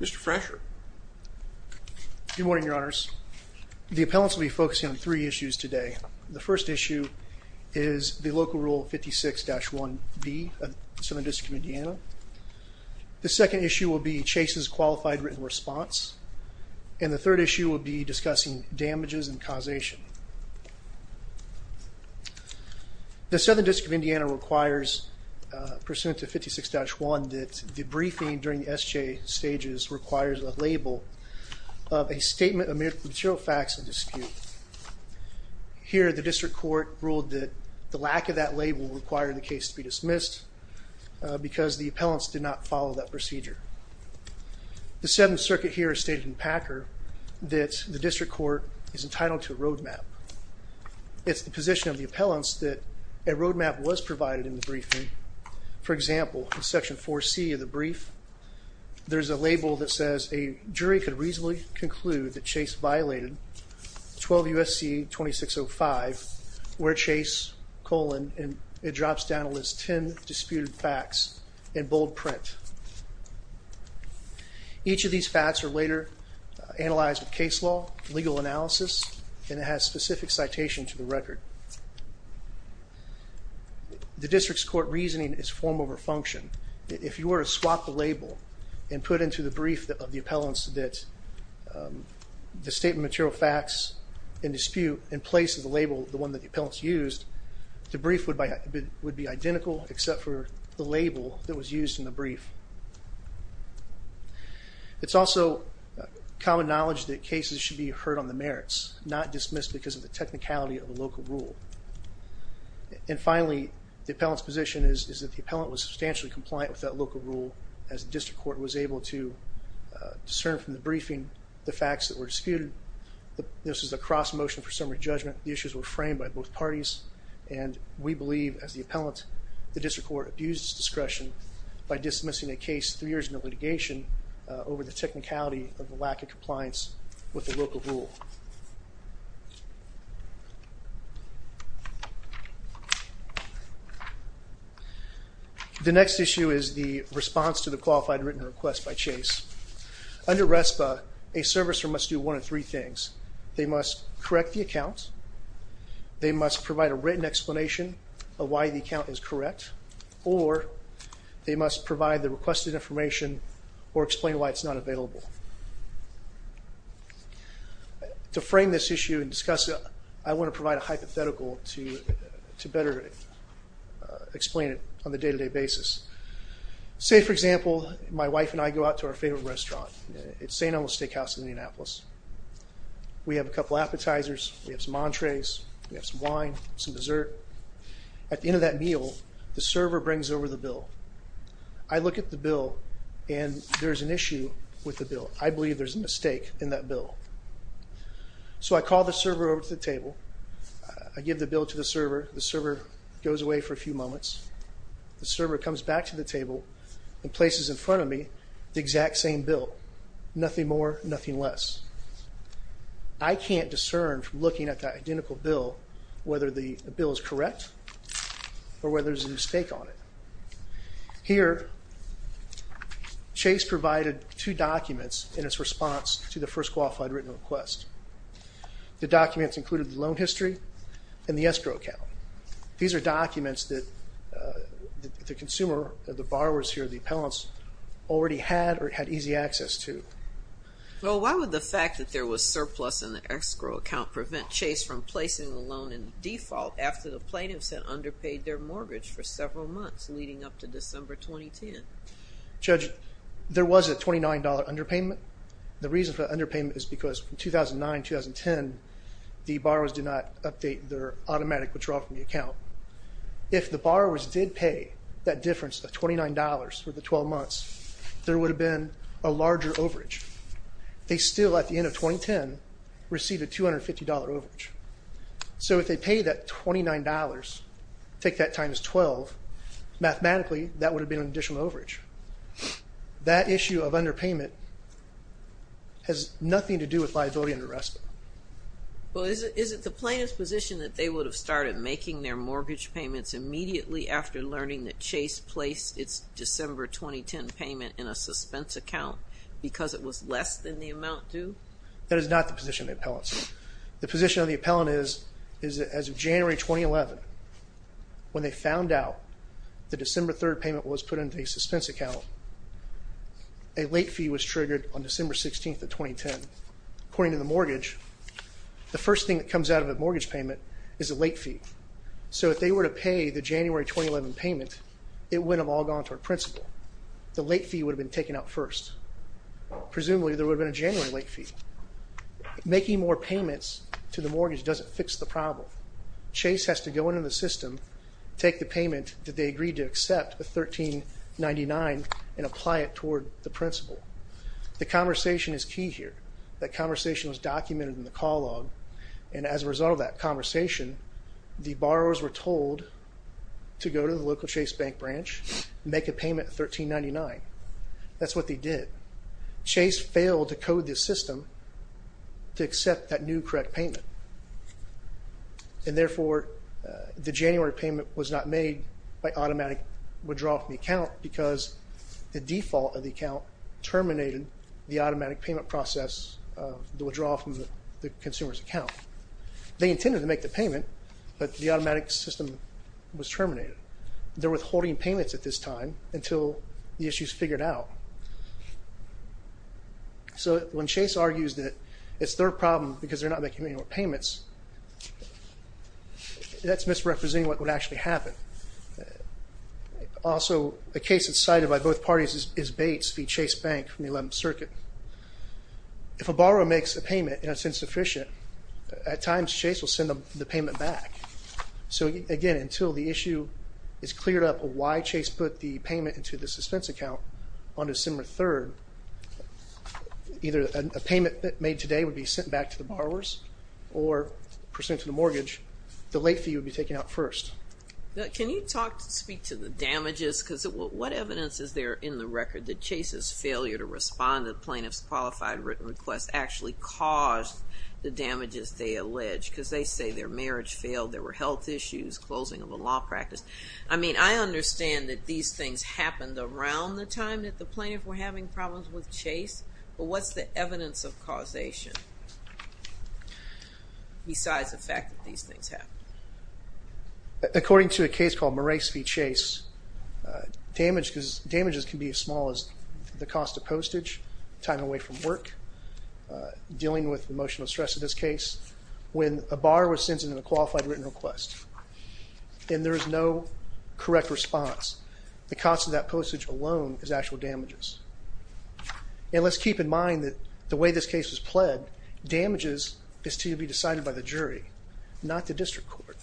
Mr. Frasher. Good morning, your honors. The appellants will be focusing on three issues today. The first issue is the local rule 56-1B of the Southern District of Indiana. The second issue will be Chase's qualified written response and the third issue will be discussing damages and causation. The Southern District of Indiana requires pursuant to 56-1 that the briefing during the SJ stages requires a label of a statement of material facts of dispute. Here the district court ruled that the lack of that label required the case to be dismissed because the appellants did not follow that procedure. The Seventh Circuit here stated in Packer that the district court is entitled to a roadmap. It's the position of the appellants that a roadmap was There's a label that says a jury could reasonably conclude that Chase violated 12 U.S.C. 2605 where Chase, colon, and it drops down to list 10 disputed facts in bold print. Each of these facts are later analyzed with case law, legal analysis, and it has specific citation to the record. The district's court reasoning is form over function. If you were to swap the label and put into the brief of the appellants that the statement material facts in dispute in place of the label, the one that the appellants used, the brief would be identical except for the label that was used in the brief. It's also common knowledge that cases should be heard on the merits, not dismissed because of the technicality of The appellant was substantially compliant with that local rule as the district court was able to discern from the briefing the facts that were disputed. This is a cross motion for summary judgment. The issues were framed by both parties and we believe as the appellant the district court abused discretion by dismissing a case three years in the litigation over the technicality of the lack of compliance with the local rule. The next issue is the response to the qualified written request by Chase. Under RESPA, a servicer must do one of three things. They must correct the account, they must provide a written explanation of why the account is correct, or they must provide the requested information or explain why it's not available. To frame this issue and discuss it, I want to provide a hypothetical to better explain it on the day-to-day basis. Say for example, my wife and I go out to our favorite restaurant at St. Elmo's Steakhouse in Indianapolis. We have a couple appetizers, we have some entrees, we have some wine, some dessert. At the end of that meal, the server brings over the bill. I look at the bill and there's an issue with the bill. I believe there's a mistake in that bill. So I call the server over to the table, I give the bill to the server, the server goes away for a few moments, the server comes back to the table and places in front of me the exact same bill. Nothing more, nothing less. I can't discern from looking at that identical bill whether the bill is correct or whether there's a mistake on it. Here, Chase provided two documents in its response to the first qualified written request. The documents included the loan history and the escrow account. These are documents that the consumer, the borrowers here, the appellants, already had or had easy access to. Well, why would the fact that there was surplus in the escrow account prevent Chase from for several months leading up to December 2010? Judge, there was a $29 underpayment. The reason for underpayment is because from 2009-2010, the borrowers did not update their automatic withdrawal from the account. If the borrowers did pay that difference of $29 for the 12 months, there would have been a larger overage. They still, at the end of 2010, received a $250 overage. So if they paid that $29, take that times 12, mathematically, that would have been an additional overage. That issue of underpayment has nothing to do with liability under arrest. Well, is it the plaintiff's position that they would have started making their mortgage payments immediately after learning that Chase placed its December 2010 payment in a suspense account because it was less than the amount due? That is not the position of the appellants. The position of the appellant is that as of January 2011, when they found out the December 3rd payment was put into a suspense account, a late fee was triggered on December 16th of 2010. According to the mortgage, the first thing that comes out of a mortgage payment is a late fee. So if they were to pay the January 2011 payment, it would have all gone to our principal. The late fee would have been taken out first. Presumably, there would have been a January late fee. Making more payments to the mortgage doesn't fix the problem. Chase has to go into the system, take the payment that they agreed to accept at $13.99, and apply it toward the principal. The conversation is key here. That conversation was documented in the call log, and as a result of that conversation, the borrowers were told to go to the local Chase Bank branch, make a payment at $13.99. That's what they did. Chase failed to code this system to accept that new correct payment, and therefore, the January payment was not made by automatic withdrawal from the account, because the default of the account terminated the automatic payment process of the withdrawal from the consumer's account. They intended to make the payment, but the automatic system was terminated. They're withholding payments at this time until the issue is figured out. So when Chase argues that it's their problem because they're not making any more payments, that's misrepresenting what would actually happen. Also, the case that's cited by both parties is Bates, the Chase Bank from the 11th Circuit. If a borrower makes a payment and it's insufficient, at times Chase will send the payment back. So again, until the Chase put the payment into the suspense account on December 3rd, either a payment that made today would be sent back to the borrowers or presented to the mortgage, the late fee would be taken out first. Can you talk to speak to the damages? Because what evidence is there in the record that Chase's failure to respond to the plaintiff's qualified written request actually caused the damages they allege? Because they say their marriage failed, there were health issues, closing of a law practice. I mean, I understand that these things happened around the time that the plaintiff were having problems with Chase, but what's the evidence of causation besides the fact that these things happened? According to a case called Morais v. Chase, damages can be as small as the cost of postage, time away from work, dealing with emotional stress in this case. When a is no correct response, the cost of that postage alone is actual damages. And let's keep in mind that the way this case was pled, damages is to be decided by the jury, not the district court.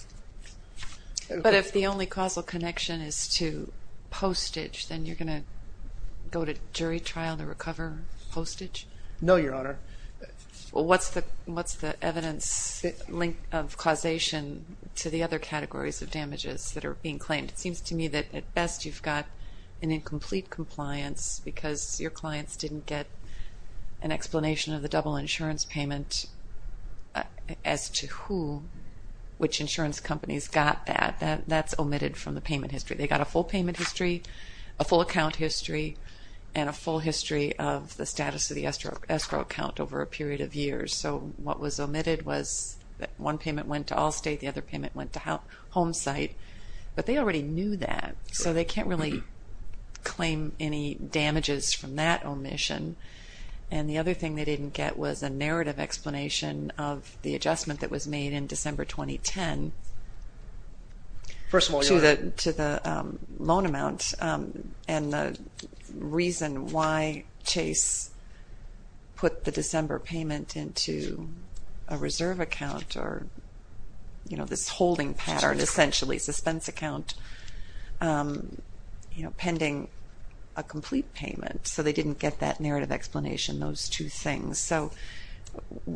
But if the only causal connection is to postage, then you're going to go to jury trial to recover postage? No, Your Honor. What's the evidence link of causation to the other categories of damages that are being claimed? It seems to me that at best you've got an incomplete compliance because your clients didn't get an explanation of the double insurance payment as to which insurance companies got that. That's omitted from the payment history. They got a full payment history, a full account history, and a full history of the status of the escrow account over a period of years. So what was omitted was that one payment went to Allstate, the other payment went to Homesite. But they already knew that, so they can't really claim any damages from that omission. And the other thing they didn't get was a narrative explanation of the adjustment that was made in December 2010 to the loan amount and the reason why Chase put the December payment into a reserve account or this holding pattern essentially, a suspense account, pending a complete payment. So they didn't get that narrative explanation, those two things. So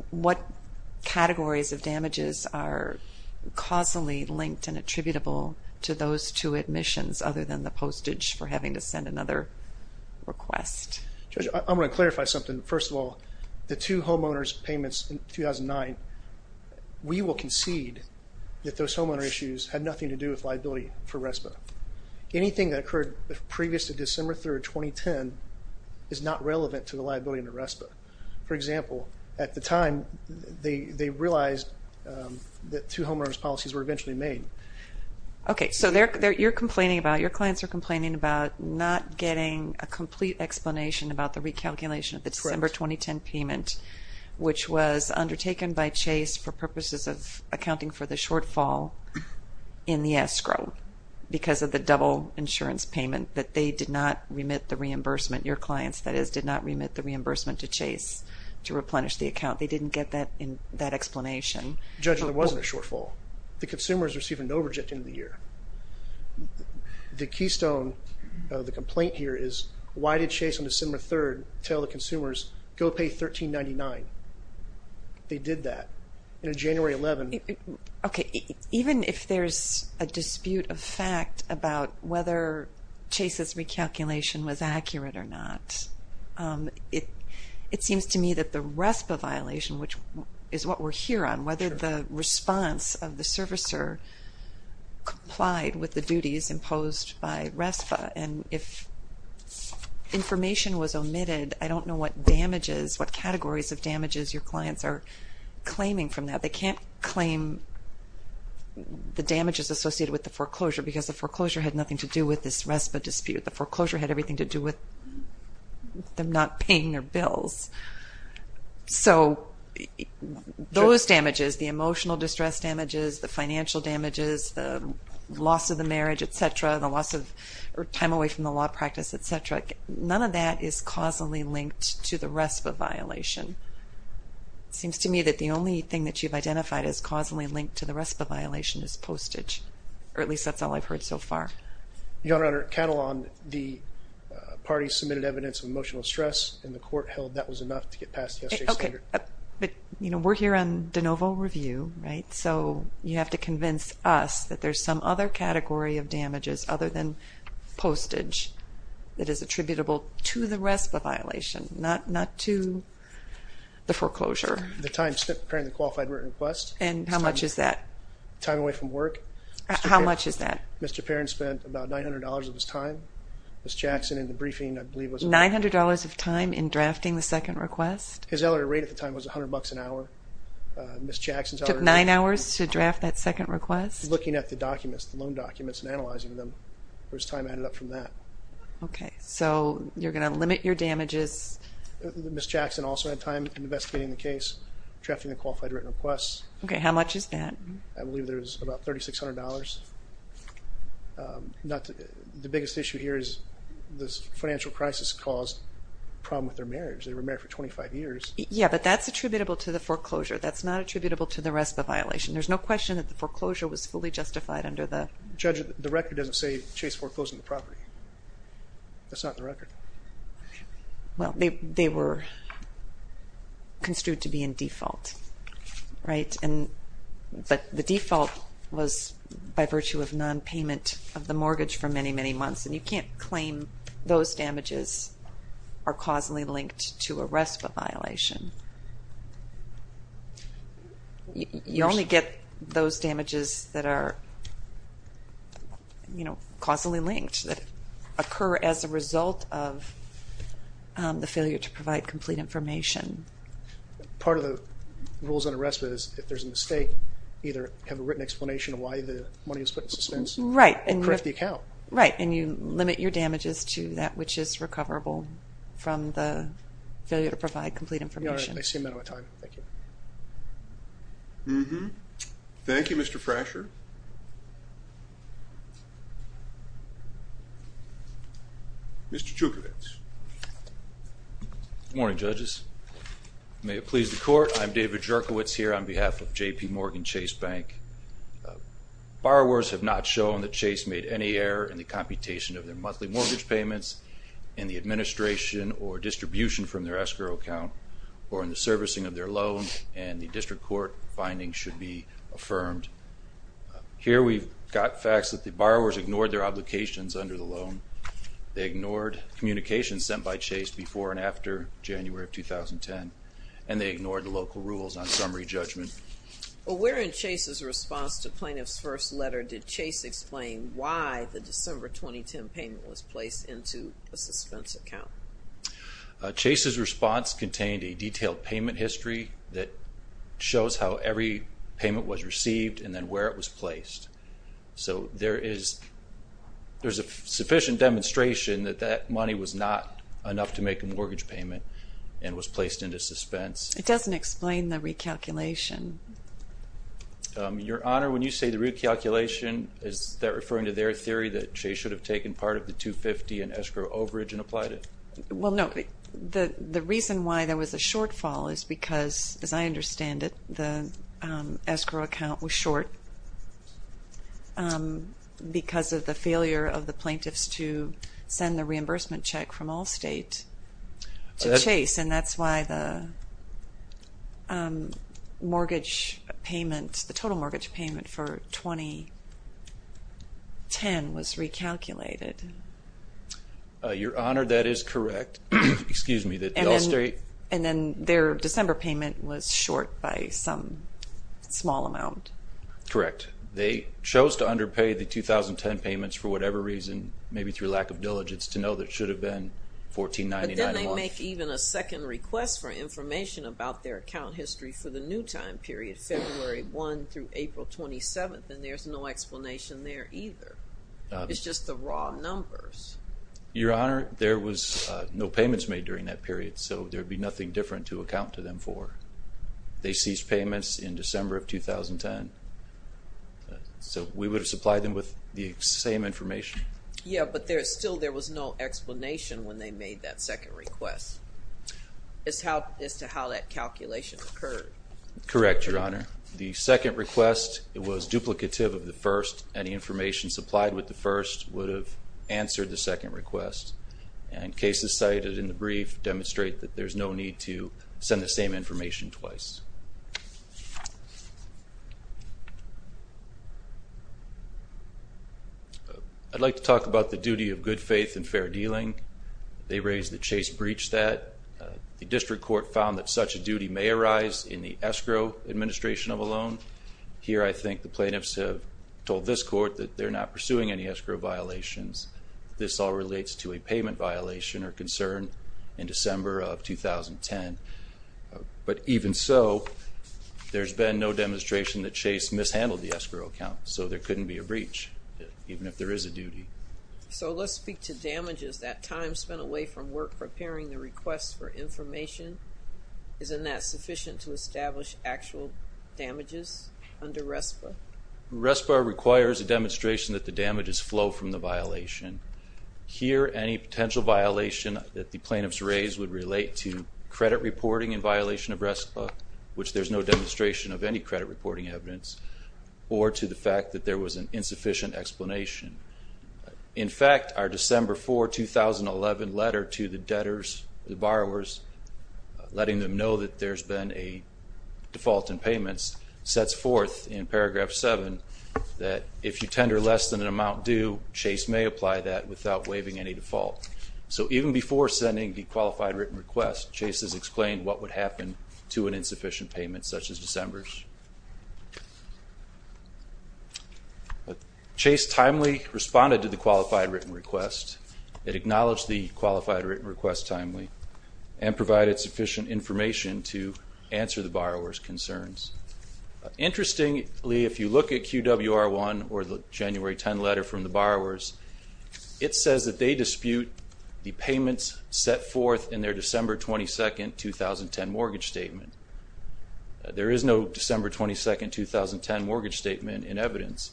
what categories of damages are causally linked and attributable to those two omissions other than the postage for having to send another request? Judge, I'm going to clarify something. First of all, the two homeowners payments in 2009, we will concede that those homeowner issues had nothing to do with liability for RESPA. Anything that occurred previous to December 3rd, 2010 is not relevant to the liability under RESPA. For example, at the time they realized that two homeowners policies were eventually made. Okay, so you're complaining about, your clients are complaining about not getting a complete explanation about the recalculation of the December 2010 payment which was undertaken by Chase for purposes of accounting for the shortfall in the escrow because of the double insurance payment that they did not remit the reimbursement, your clients that is, did not remit the reimbursement to Chase to replenish the account. They didn't get that explanation. Judge, there wasn't a shortfall. The consumers received a no reject in the year. The keystone of the complaint here is why did Chase on May 13, 1999, they did that in January 11. Okay, even if there's a dispute of fact about whether Chase's recalculation was accurate or not, it seems to me that the RESPA violation, which is what we're here on, whether the response of the servicer complied with the duties imposed by RESPA and if information was collected, the categories of damages your clients are claiming from that, they can't claim the damages associated with the foreclosure because the foreclosure had nothing to do with this RESPA dispute. The foreclosure had everything to do with them not paying their bills. So those damages, the emotional distress damages, the financial damages, the loss of the marriage, etc., the loss of time away from the law practice, etc., none of that is causally linked to the RESPA violation. It seems to me that the only thing that you've identified as causally linked to the RESPA violation is postage, or at least that's all I've heard so far. Your Honor, count along the party submitted evidence of emotional stress and the court held that was enough to get past the SJ standard. Okay, but you know we're here on de novo review, right, so you have to convince us that there's some other category of damages other than postage that is attributable to the RESPA violation, not to the foreclosure. The time spent preparing the qualified written request. And how much is that? Time away from work. How much is that? Mr. Perrin spent about $900 of his time. Ms. Jackson in the briefing I believe was... $900 of time in drafting the second request? His hourly rate at the time was $100 an hour. Ms. Jackson's... Took nine hours to draft that second request? Looking at the documents, the loan documents and analyzing them, where his time added up from that. Okay, so you're going to limit your damages. Ms. Jackson also had time in investigating the case, drafting the qualified written request. Okay, how much is that? I believe there's about $3,600. The biggest issue here is this financial crisis caused problem with their marriage. They were married for 25 years. Yeah, but that's attributable to the foreclosure. That's not attributable to the RESPA violation. There's no question that the foreclosure was fully That's not the record. Well, they were construed to be in default, right? And but the default was by virtue of non-payment of the mortgage for many, many months. And you can't claim those damages are causally linked to a RESPA violation. You only get those damages that are, you know, causally linked that occur as a result of the failure to provide complete information. Part of the rules on a RESPA is if there's a mistake, either have a written explanation of why the money was put in suspense or correct the account. Right, and you limit your complete information. All right, I see a minute of time. Thank you. Mm-hmm. Thank you, Mr. Frasher. Mr. Jurkiewicz. Good morning, judges. May it please the Court, I'm David Jurkiewicz here on behalf of JPMorgan Chase Bank. Borrowers have not shown that Chase made any error in the computation of their monthly mortgage payments in the administration or distribution from their escrow account or in the servicing of their loans, and the District Court findings should be affirmed. Here we've got facts that the borrowers ignored their obligations under the loan. They ignored communications sent by Chase before and after January of 2010, and they ignored the local rules on summary judgment. Well, where in Chase's response to plaintiff's first letter did Chase explain why the December 2010 payment was placed in a suspense account? Chase's response contained a detailed payment history that shows how every payment was received and then where it was placed. So there is, there's a sufficient demonstration that that money was not enough to make a mortgage payment and was placed into suspense. It doesn't explain the recalculation. Your Honor, when you say the recalculation, is that referring to their theory that Chase should have taken part of the 250 and escrow overage and applied it? Well, no. The reason why there was a shortfall is because, as I understand it, the escrow account was short because of the failure of the plaintiffs to send the reimbursement check from Allstate to Chase, and that's why the mortgage payment, the total mortgage payment for 2010 was recalculated. Your Honor, that is correct. Excuse me. And then their December payment was short by some small amount. Correct. They chose to underpay the 2010 payments for whatever reason, maybe through lack of diligence, to know that it should have been $1499. But then they make even a second request for information about their account history for the new time period, February 1 through April 27, and there's no explanation there either. It's just the raw numbers. Your Honor, there was no payments made during that period, so there'd be nothing different to account to them for. They ceased payments in December of 2010, so we would have supplied them with the same information. Yeah, but still there was no explanation when they made that second request, as to how that calculation occurred. Correct, Your Honor. The second request, it was duplicative of the first. Any information supplied with the first would have answered the second request, and cases cited in the brief demonstrate that there's no need to send the same information twice. I'd like to talk about the duty of good faith and fair dealing. They raised that Chase breached that. The district court found that such a duty may arise in the escrow administration of a loan. Here, I think the plaintiffs have told this court that they're not pursuing any escrow violations. This all relates to a There's been no demonstration that Chase mishandled the escrow account, so there couldn't be a breach, even if there is a duty. So let's speak to damages. That time spent away from work preparing the requests for information, isn't that sufficient to establish actual damages under RESPA? RESPA requires a demonstration that the damages flow from the violation. Here, any potential violation that the plaintiffs raised would relate to credit reporting in which there's no demonstration of any credit reporting evidence, or to the fact that there was an insufficient explanation. In fact, our December 4, 2011 letter to the debtors, the borrowers, letting them know that there's been a default in payments, sets forth in paragraph 7 that if you tender less than an amount due, Chase may apply that without waiving any default. So even before sending the qualified written request, Chase has explained what would happen to an insufficient payment, such as December's. Chase timely responded to the qualified written request. It acknowledged the qualified written request timely, and provided sufficient information to answer the borrower's concerns. Interestingly, if you look at QWR 1, or the January 10 letter from the borrowers, it says that they dispute the payments set forth in their December 22, 2010 mortgage statement. There is no December 22, 2010 mortgage statement in evidence,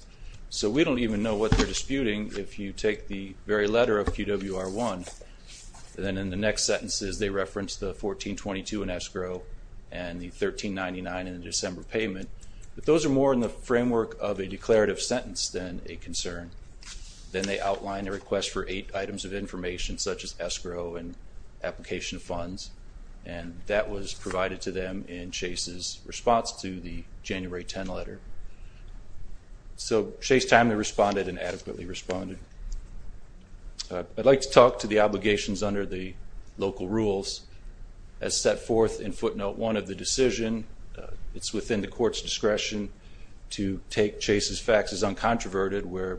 so we don't even know what they're disputing if you take the very letter of QWR 1. Then in the next sentences, they reference the 1422 in escrow, and the 1399 in the December payment, but those are more in the framework of a declarative sentence than a concern. Then they outline a request for eight items of information, such as escrow and application of funds, and that was provided to them in Chase's response to the January 10 letter. So Chase timely responded and adequately responded. I'd like to talk to the obligations under the local rules as set forth in footnote 1 of the decision. It's within the court's discretion to take Chase's faxes uncontroverted, where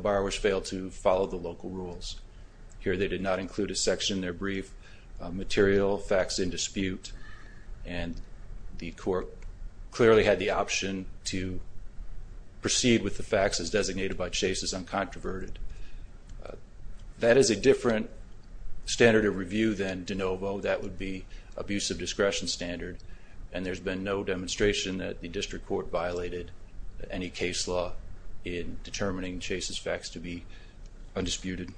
borrowers fail to follow the local rules. Here they did not include a section in their brief, material fax in dispute, and the court clearly had the option to proceed with the faxes designated by Chase's uncontroverted. That is a different standard of review than de novo, that would be abuse of discretion standard, and there's been no demonstration that the district court violated any case law in determining Chase's fax to be undisputed.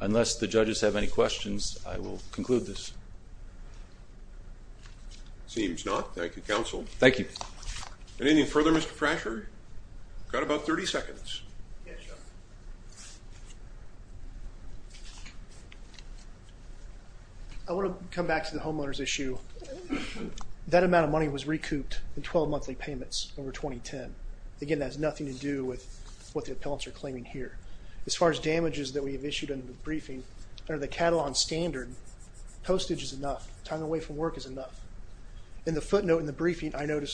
Unless the judges have any questions, I will conclude this. Seems not. Thank you, counsel. Thank you. Anything further, Mr. Thrasher? Got about 30 seconds. Yes, your honor. I want to come back to the homeowner's issue. That amount of money was recouped in 12 monthly payments over 2010. Again, that has nothing to do with what the appellants are claiming here. As far as damages that we have issued under the briefing, under the Catalan standard, postage is enough, time away from work is enough. In the footnote in the briefing, I note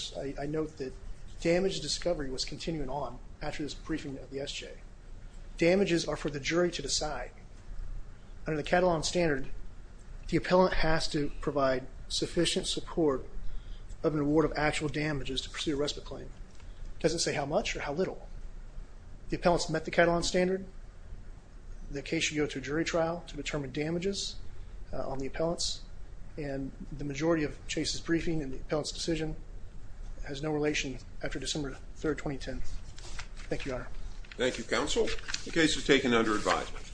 that damage discovery was continuing on after this briefing of the SJ. Damages are for the jury to decide. Under the Catalan standard, the appellant has to provide sufficient support of an award of actual damages to pursue a respite claim. It doesn't say how much or how little. The appellants met the Catalan standard. The case should go to a jury trial to determine damages on the appellants, and the majority of Chase's briefing and the appellant's decision has no relation after December 3rd, 2010. Thank you, your honor. Thank you, counsel. The case is taken under advisement.